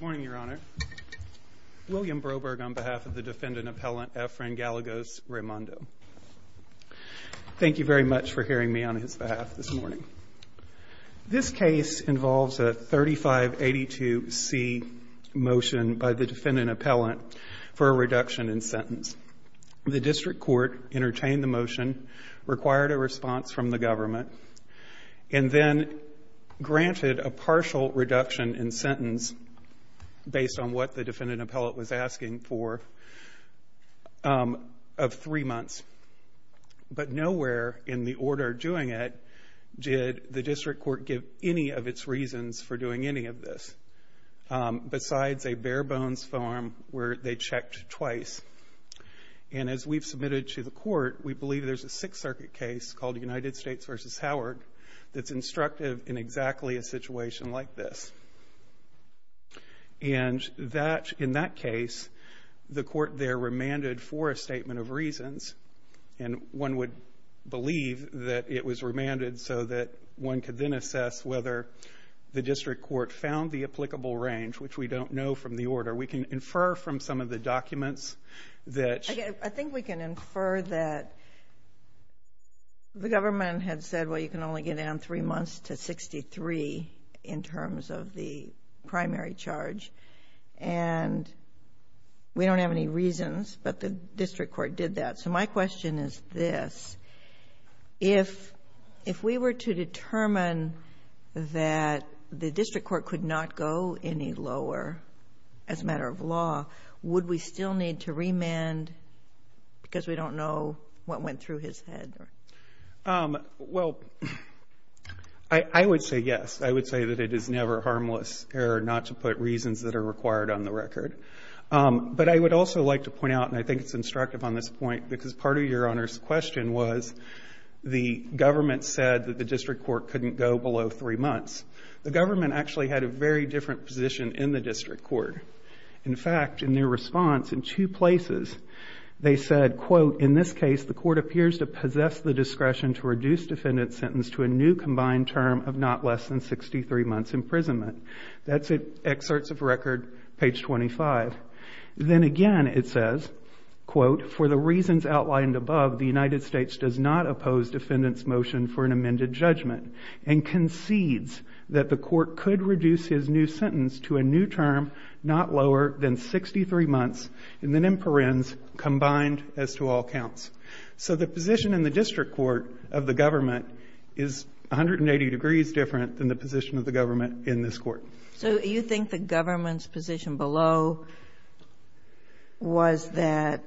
Morning, Your Honor. William Broberg on behalf of the defendant appellant Efren Gallegos-Raymundo. Thank you very much for hearing me on his behalf this morning. This case involves a 3582C motion by the defendant appellant for a reduction in sentence. The district court entertained the motion, required a response from the government, and then granted a partial reduction in sentence based on what the defendant appellant was asking for of three months. But nowhere in the order doing it did the district court give any of its reasons for doing any of this besides a bare-bones form where they checked twice. And as we've submitted to the court, we believe there's a Sixth Circuit case called United States v. Howard that's instructive in exactly a situation like this. And in that case, the court there remanded for a statement of reasons, and one would believe that it was remanded so that one could then assess whether the district court found the applicable range, which we don't know from the order. We can infer from some of the documents that... Well, you can only get down three months to 63 in terms of the primary charge. And we don't have any reasons, but the district court did that. So my question is this. If we were to determine that the district court could not go any lower as a matter of law, would we still need to remand because we don't know what went through his head? Well, I would say yes. I would say that it is never harmless error not to put reasons that are required on the record. But I would also like to point out, and I think it's instructive on this point, because part of Your Honor's question was the government said that the district court couldn't go below three months. The government actually had a very different position in the district court. In fact, in their response, in two places, they said, quote, in this case, the court appears to possess the discretion to reduce defendant's sentence to a new combined term of not less than 63 months imprisonment. That's excerpts of record, page 25. Then again, it says, quote, for the reasons outlined above, the United States does not oppose defendant's motion for an amended judgment and concedes that the court could reduce his new sentence to a new not lower than 63 months and then imprisons combined as to all counts. So the position in the district court of the government is 180 degrees different than the position of the government in this court. So you think the government's position below was that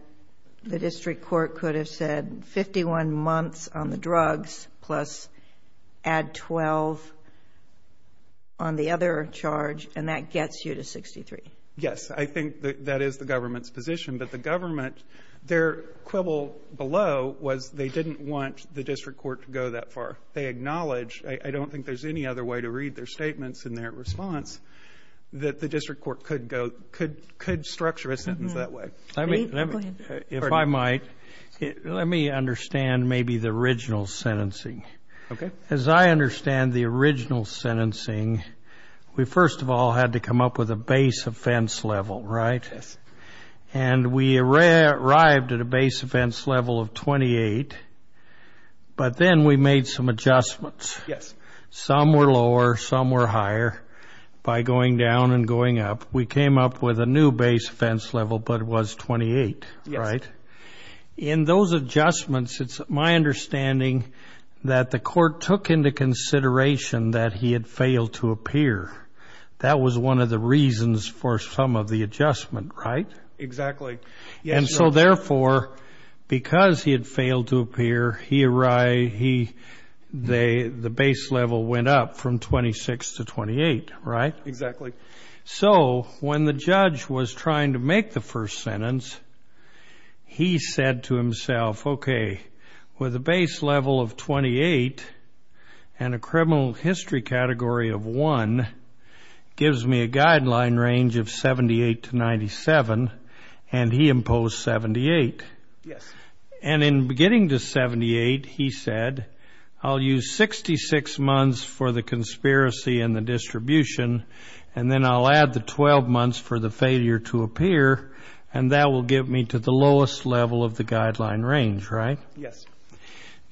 the district court could have said 51 months on the drugs plus add 12 on the other charge, and that gets you to 63? Yes, I think that is the government's position. But the government, their quibble below was they didn't want the district court to go that far. They acknowledge, I don't think there's any other way to read their statements in their response, that the district court could go, could structure a sentence that way. If I might, let me understand maybe the original sentencing. As I understand the base offense level, right? Yes. And we arrived at a base offense level of 28, but then we made some adjustments. Yes. Some were lower, some were higher by going down and going up. We came up with a new base offense level, but it was 28, right? In those adjustments, it's my understanding that the court took into consideration that he had failed to appear. That was one of the reasons for some of the adjustment, right? Exactly. And so therefore, because he had failed to appear, the base level went up from 26 to 28, right? Exactly. So when the judge was trying to make the first sentence, he said to himself, okay, with a base level of 28 and a criminal history category of one, gives me a guideline range of 78 to 97, and he imposed 78. Yes. And in beginning to 78, he said, I'll use 66 months for the conspiracy and the distribution, and then I'll add the 12 months for the failure to appear, and that will give me to the lowest level of the guideline range, right? Yes.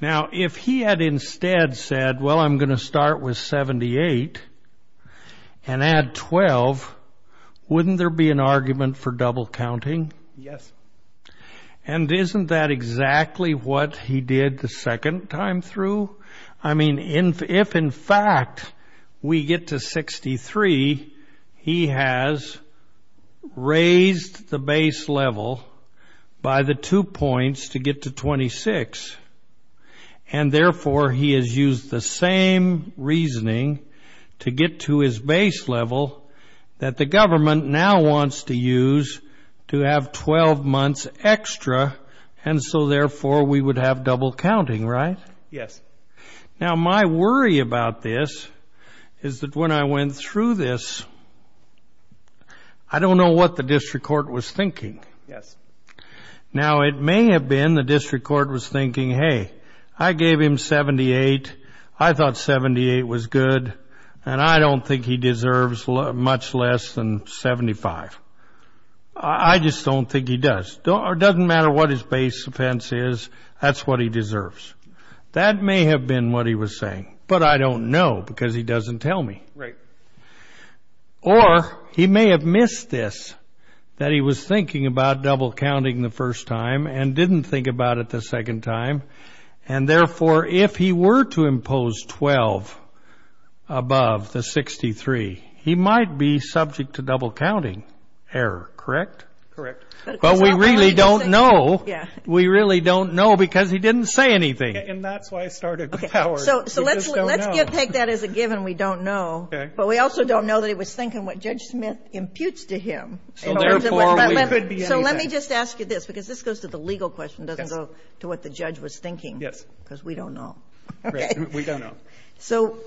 Now, if he had instead said, well, I'm going to start with 78 and add 12, wouldn't there be an argument for double counting? Yes. And isn't that exactly what he did the second time through? I mean, if in fact, we get to 63, he has raised the base level by the two points to get to 26. And therefore, he has used the same reasoning to get to his base level that the government now wants to use to have 12 months extra. And so therefore, we would have double counting, right? Yes. Now, my worry about this is that when I went through this, I don't know what the district court was thinking. Yes. Now, it may have been the district court was thinking, hey, I gave him 78. I thought 78 was good. And I don't think he deserves much less than 75. I just don't think he does. It doesn't matter what his base offense is. That's what he deserves. That may have been what he was saying, but I don't know because he doesn't tell me. Right. Or he may have missed this, that he was thinking about double counting the first time and didn't think about it the second time. And therefore, if he were to impose 12 above the 63, he might be subject to double counting error, correct? Correct. But we really don't know. We really don't know because he didn't say anything. And that's why I started with Howard. So let's take that as a given we don't know. Okay. But we also don't know that he was thinking what Judge Smith imputes to him. So therefore, we could be anything. So let me just ask you this because this goes to the legal question. It doesn't go to what the judge was thinking. Yes. Because we don't know. Correct. We don't know. So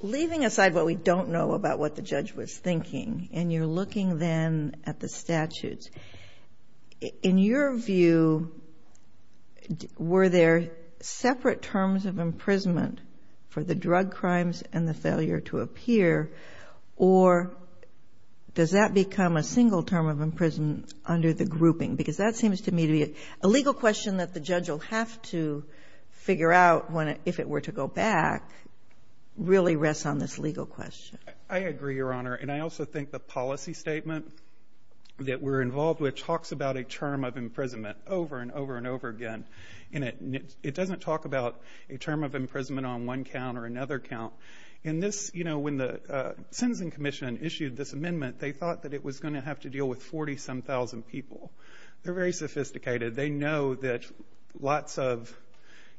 leaving aside what we don't know about what judge was thinking and you're looking then at the statutes, in your view, were there separate terms of imprisonment for the drug crimes and the failure to appear? Or does that become a single term of imprisonment under the grouping? Because that seems to me to be a legal question that the judge will have to figure out if it were to go back really rests on this legal question. I agree, Your Honor. And I also think the policy statement that we're involved with talks about a term of imprisonment over and over and over again. And it doesn't talk about a term of imprisonment on one count or another count. In this, you know, when the Sentencing Commission issued this amendment, they thought that it was going to have to deal with 40 some thousand people. They're very sophisticated. They know that lots of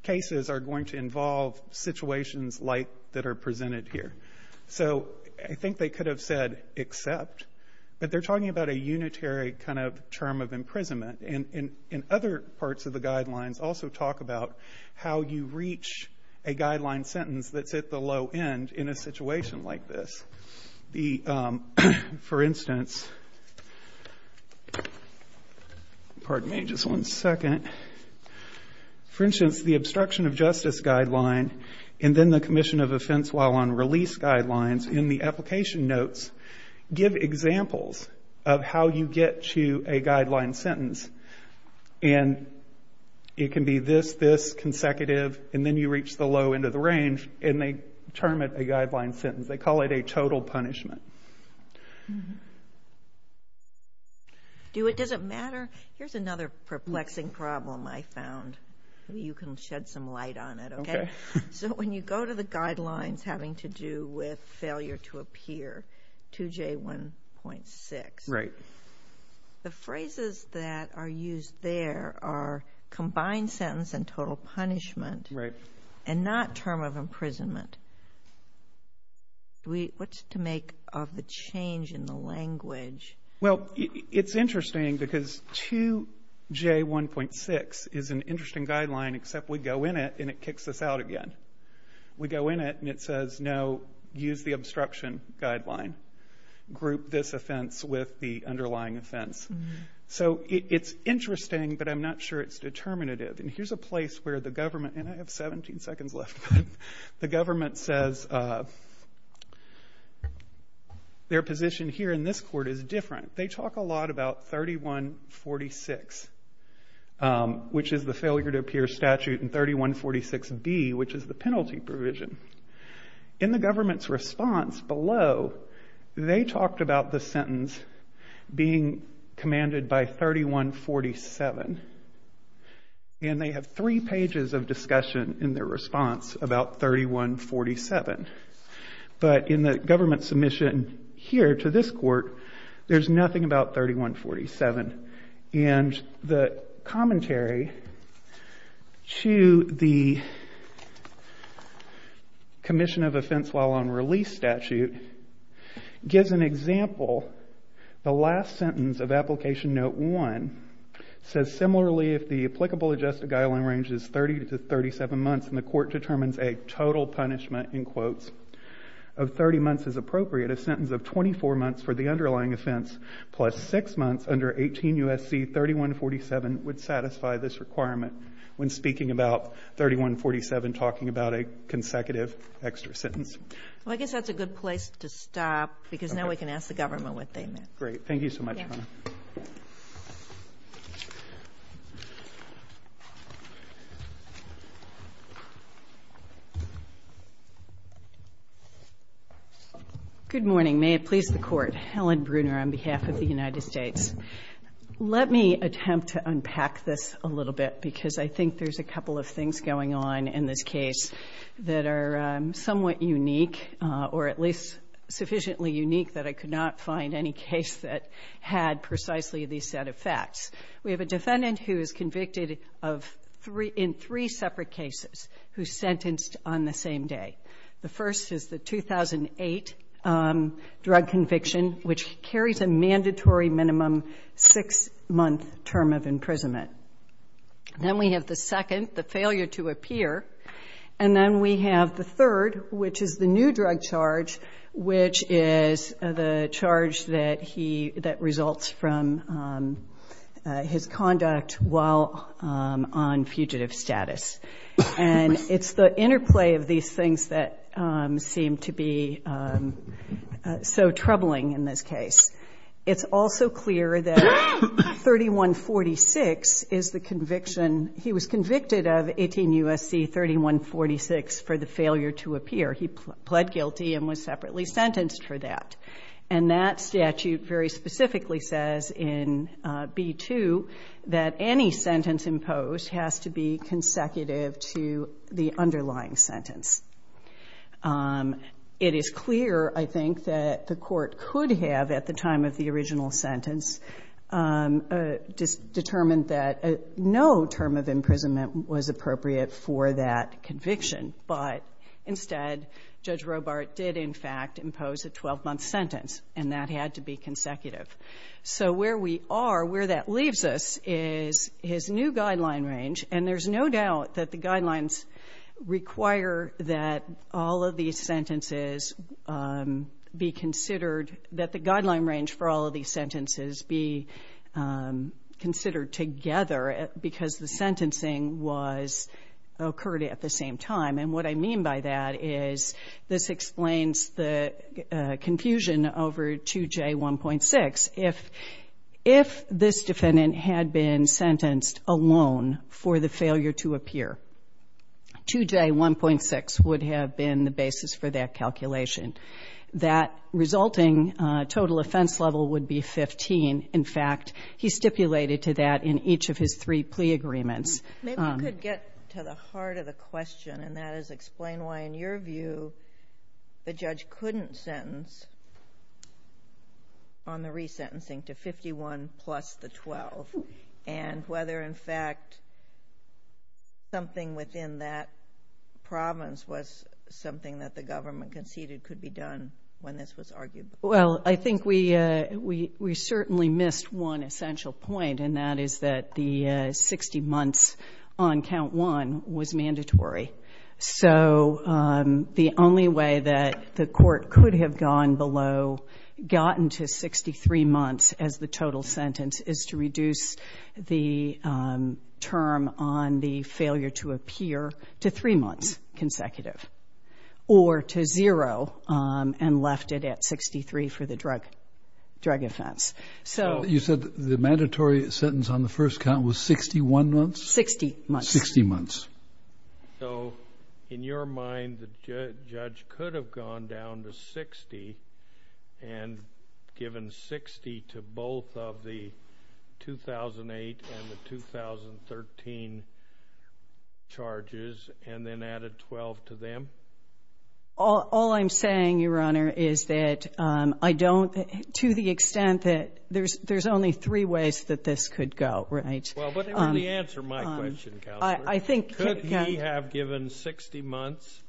cases are going to involve situations like that are presented here. So I think they could have said except. But they're talking about a unitary kind of term of imprisonment. And in other parts of the guidelines also talk about how you reach a guideline sentence that's at the low end in a situation like this. The, for instance, pardon me just one second. For instance, the Obstruction of Justice Guideline and then the Commission of Offense While on Release Guidelines in the application notes give examples of how you get to a guideline sentence. And it can be this, this, consecutive, and then you reach the low end of the range, and they term it a guideline sentence. They call it a total punishment. Do it, does it matter? Here's another perplexing problem I found. You can shed some light on it. So when you go to the guidelines having to do with failure to appear, 2J1.6, the phrases that are used there are combined sentence and total punishment and not term of imprisonment. Do we, what's to make of the change in the language? Well, it's interesting because 2J1.6 is an interesting guideline except we go in it and it kicks us out again. We go in it and it says no, use the obstruction guideline. Group this offense with the underlying offense. So it's interesting but I'm not sure it's determinative. And here's a place where the government, and I have 17 seconds left, the government says their position here in this court is different. They talk a lot about 3146, which is the failure to appear statute, and 3146B, which is the penalty provision. In the government's response below, they talked about the sentence being commanded by 3147. And they have three pages of discussion in their response about 3147. But in the government submission here to this court, there's nothing about 3147. And the commentary to the commission of offense while on release statute gives an example, the last sentence of application note 1 says similarly if the applicable adjusted guideline range is 30 to 37 months and the court determines a total punishment in quotes of 30 months is appropriate, a sentence of 24 months for the underlying offense plus 6 months under 18 U.S.C. 3147 would satisfy this requirement when speaking about 3147 talking about a consecutive extra sentence. Well, I guess that's a good place to stop because now we can ask the government what they meant. Great. Thank you so much, Your Honor. Good morning. May it please the Court. Helen Bruner on behalf of the United States. Let me attempt to unpack this a little bit because I think there's a couple of things going on in this case that are somewhat unique or at least sufficiently unique that I could not find any case that had precisely this set of facts. We have a defendant who is convicted in three separate cases who's sentenced on the same day. The first is the 2008 drug conviction which carries a mandatory minimum 6-month term of imprisonment. Then we have the second, the failure to appear. And then we have the third, which is the new drug charge, which is the charge that results from his conduct while on fugitive status. And it's the interplay of these things that seem to be so troubling in this case. It's also clear that 3146 is the conviction. He was convicted of 18 U.S.C. 3146 for the failure to appear. He pled guilty and was separately sentenced for that. And that statute very specifically says in B-2 that any sentence imposed has to be consecutive to the underlying sentence. It is clear, I think, that the Court could have at the time of the original sentence determined that no term of imprisonment was appropriate for that conviction. But instead, Judge Robart did in fact impose a 12-month sentence. And that had to be consecutive. So where we are, where that leaves us is his new guideline range. And there's no doubt that the guidelines require that all of these sentences be considered, that the guideline range for all of these sentences be considered together because the sentencing was occurred at the same time. And what I mean by that is this explains the confusion over 2J1.6. If this defendant had been sentenced alone for the failure to appear, 2J1.6 would have been the basis for that calculation. That resulting total offense level would be 15. In fact, he stipulated to that in each of his three plea agreements. Maybe we could get to the heart of the question, and that is explain why in your view the judge couldn't sentence on the resentencing to 51 plus the 12. And whether in fact something within that province was something that the government conceded could be done when this was argued. Well, I think we certainly missed one essential point, and that is that the 60 months on count one was mandatory. So the only way that the court could have gone below, gotten to 63 months as the total sentence is to reduce the term on the failure to appear to three for the drug offense. So you said the mandatory sentence on the first count was 61 months? Sixty months. Sixty months. So in your mind, the judge could have gone down to 60 and given 60 to both of the 2008 and the 2013 charges and then added 12 to them? All I'm saying, Your Honor, is that I don't to the extent that there's only three ways that this could go, right? Well, what is the answer to my question, Counselor? I think that Could he have given 60 months?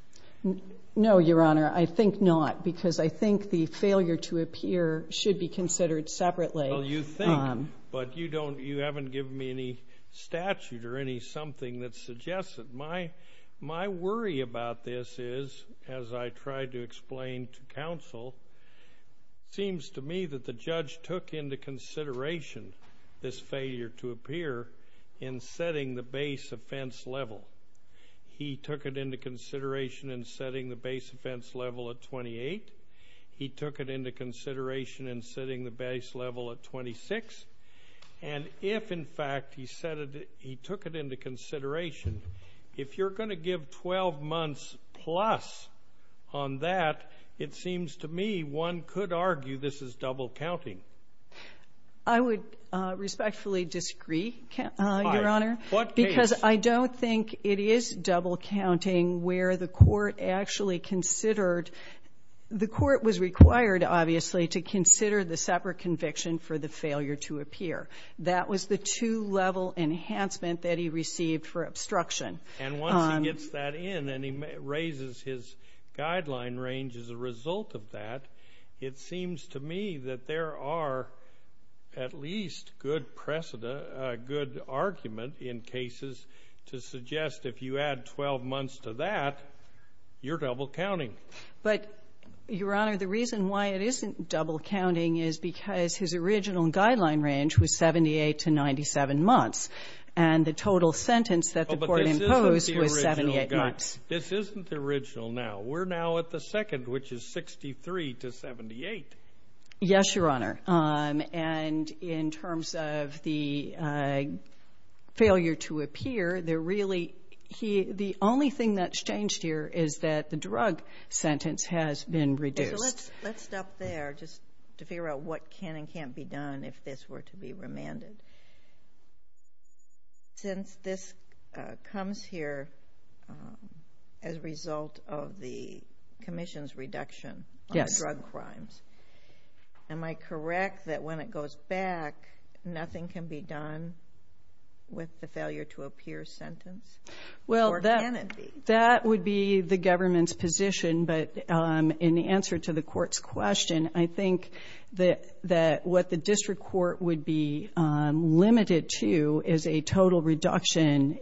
No, Your Honor. I think not, because I think the failure to appear should be considered separately. Well, you think, but you haven't given me any statute or any something that suggests it. My worry about this is, as I tried to explain to Counsel, it seems to me that the judge took into consideration this failure to appear in setting the base offense level. He took it into consideration in setting the base offense level at 28. He took it into consideration in setting the base level at 26. And if, in fact, he took it into consideration if you're going to give 12 months plus on that, it seems to me one could argue this is double counting. I would respectfully disagree, Your Honor, because I don't think it is double counting where the court actually considered, the court was required, obviously, to consider the separate conviction for the failure to appear. That was the two-level enhancement that he received for obstruction. And once he gets that in and he raises his guideline range as a result of that, it seems to me that there are at least good precedent, a good argument in cases to suggest if you add 12 months to that, you're double counting. But, Your Honor, the reason why it isn't double counting is because his original guideline range was 78 to 97 months. And the total sentence that the court imposed was 78 months. This isn't the original now. We're now at the second, which is 63 to 78. Yes, Your Honor. And in terms of the failure to appear, the only thing that's changed here is that the drug sentence has been reduced. Let's stop there, just to figure out what can and can't be done if this were to be remanded. Since this comes here as a result of the commission's reduction on the drug crimes, am I correct that when it goes back, nothing can be done with the failure to appear sentence? Or can it be? That would be the government's position. But in answer to the court's question, I think what the district court would be limited to is a total reduction,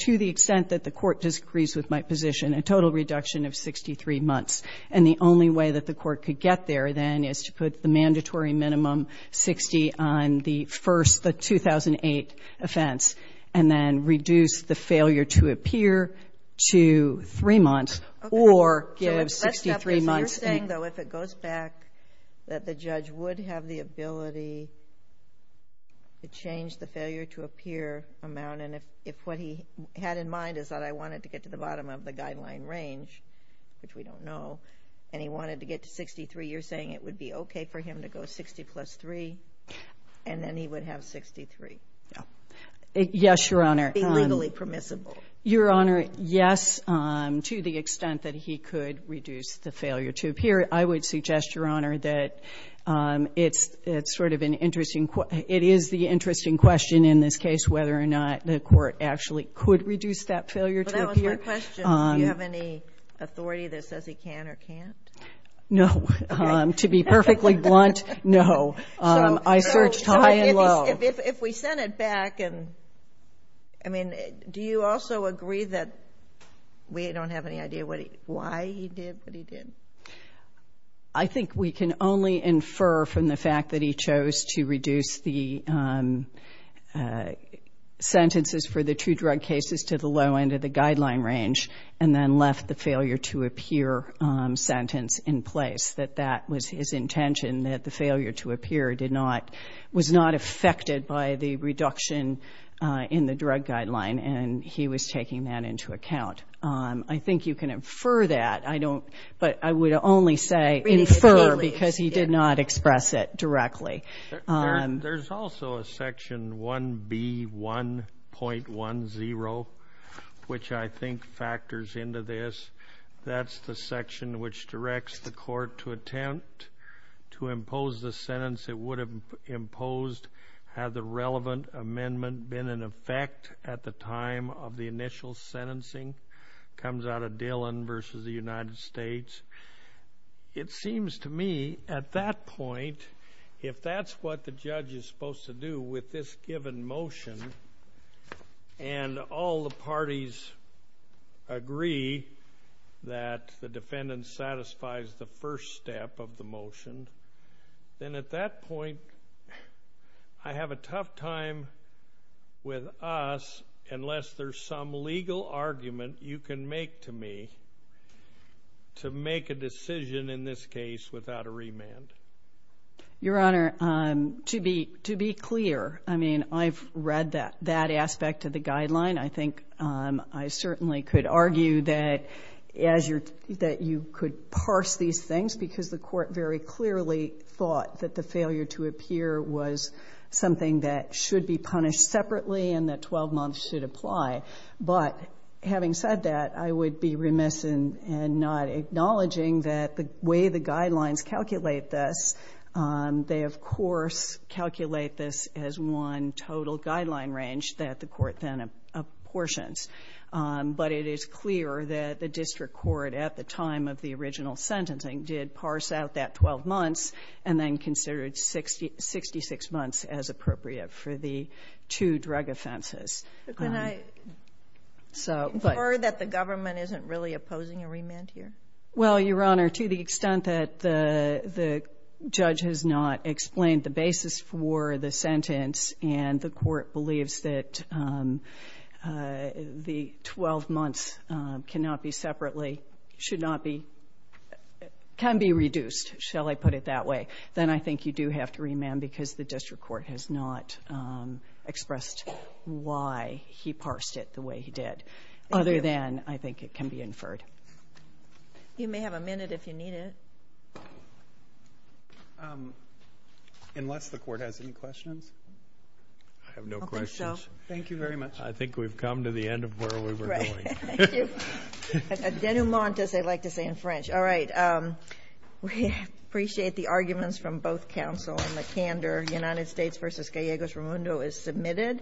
to the extent that the court disagrees with my position, a total reduction of 63 months. And the only way that the court could get there, then, is to put the mandatory minimum, 60, on the 2008 offense and then reduce the failure to appear to 3 months, or give 63 months. You're saying, though, if it goes back, that the judge would have the ability to change the failure to appear amount, and if what he had in mind is that I wanted to get to the bottom of the guideline range, which we don't know, and he wanted to get to 63, you're saying it would be okay for him to go 60 plus 3, and then he would have 63? Yes, Your Honor. It would be legally permissible? Your Honor, yes, to the extent that he could reduce the failure to appear. I would suggest, Your Honor, that it is the interesting question in this case whether or not the court actually could reduce that failure to appear. Well, that was my question. Do you have any authority that says he can or can't? If we sent it back, I mean, do you also agree that we don't have any idea why he did what he did? I think we can only infer from the fact that he chose to reduce the sentences for the two drug cases to the low end of the guideline range, and then left the failure to appear sentence in place, that that was his intention, that the failure to appear did not, was not affected by the reduction in the drug guideline, and he was taking that into account. I think you can infer that. I don't, but I would only say infer because he did not express it directly. There's also a section 1B1.10, which I think factors into this. That's the section that directs the court to attempt to impose the sentence it would have imposed had the relevant amendment been in effect at the time of the initial sentencing. It comes out of Dillon versus the United States. It seems to me, at that point, if that's what the judge is supposed to do with this given motion, and all the parties agree that the defendant's sentence satisfies the first step of the motion, then at that point, I have a tough time with us unless there's some legal argument you can make to me to make a decision in this case without a remand. Your Honor, to be clear, I mean, I've read that aspect of the guideline. I think I certainly could argue that you could parse these things because the court very clearly thought that the failure to appear was something that should be punished separately and that 12 months should apply. But having said that, I would be remiss in not acknowledging that the way the guidelines calculate this, they, of course, calculate this as one total guideline range that the court then apportions. But it is clear that the district court at the time of the original sentencing did parse out that 12 months and then considered 66 months as appropriate for the two drug offenses. But can I infer that the government isn't really opposing a remand here? Well, Your Honor, to the extent that the judge has not explained the basis for the sentence and the court believes that the 12 months cannot be separately, should not be, can be reduced, shall I put it that way, then I think you do have to remand because the district court has not expressed why he parsed it the way he did, other than I think it can be inferred. You may have a minute if you need it. Unless the court has any questions. I have no questions. Okay, so thank you very much. I think we've come to the end of where we were going. Right. Thank you. A denouement, as they like to say in French. All right. We appreciate the arguments from both counsel and the candor. United States v. Gallegos-Ramundo is submitted.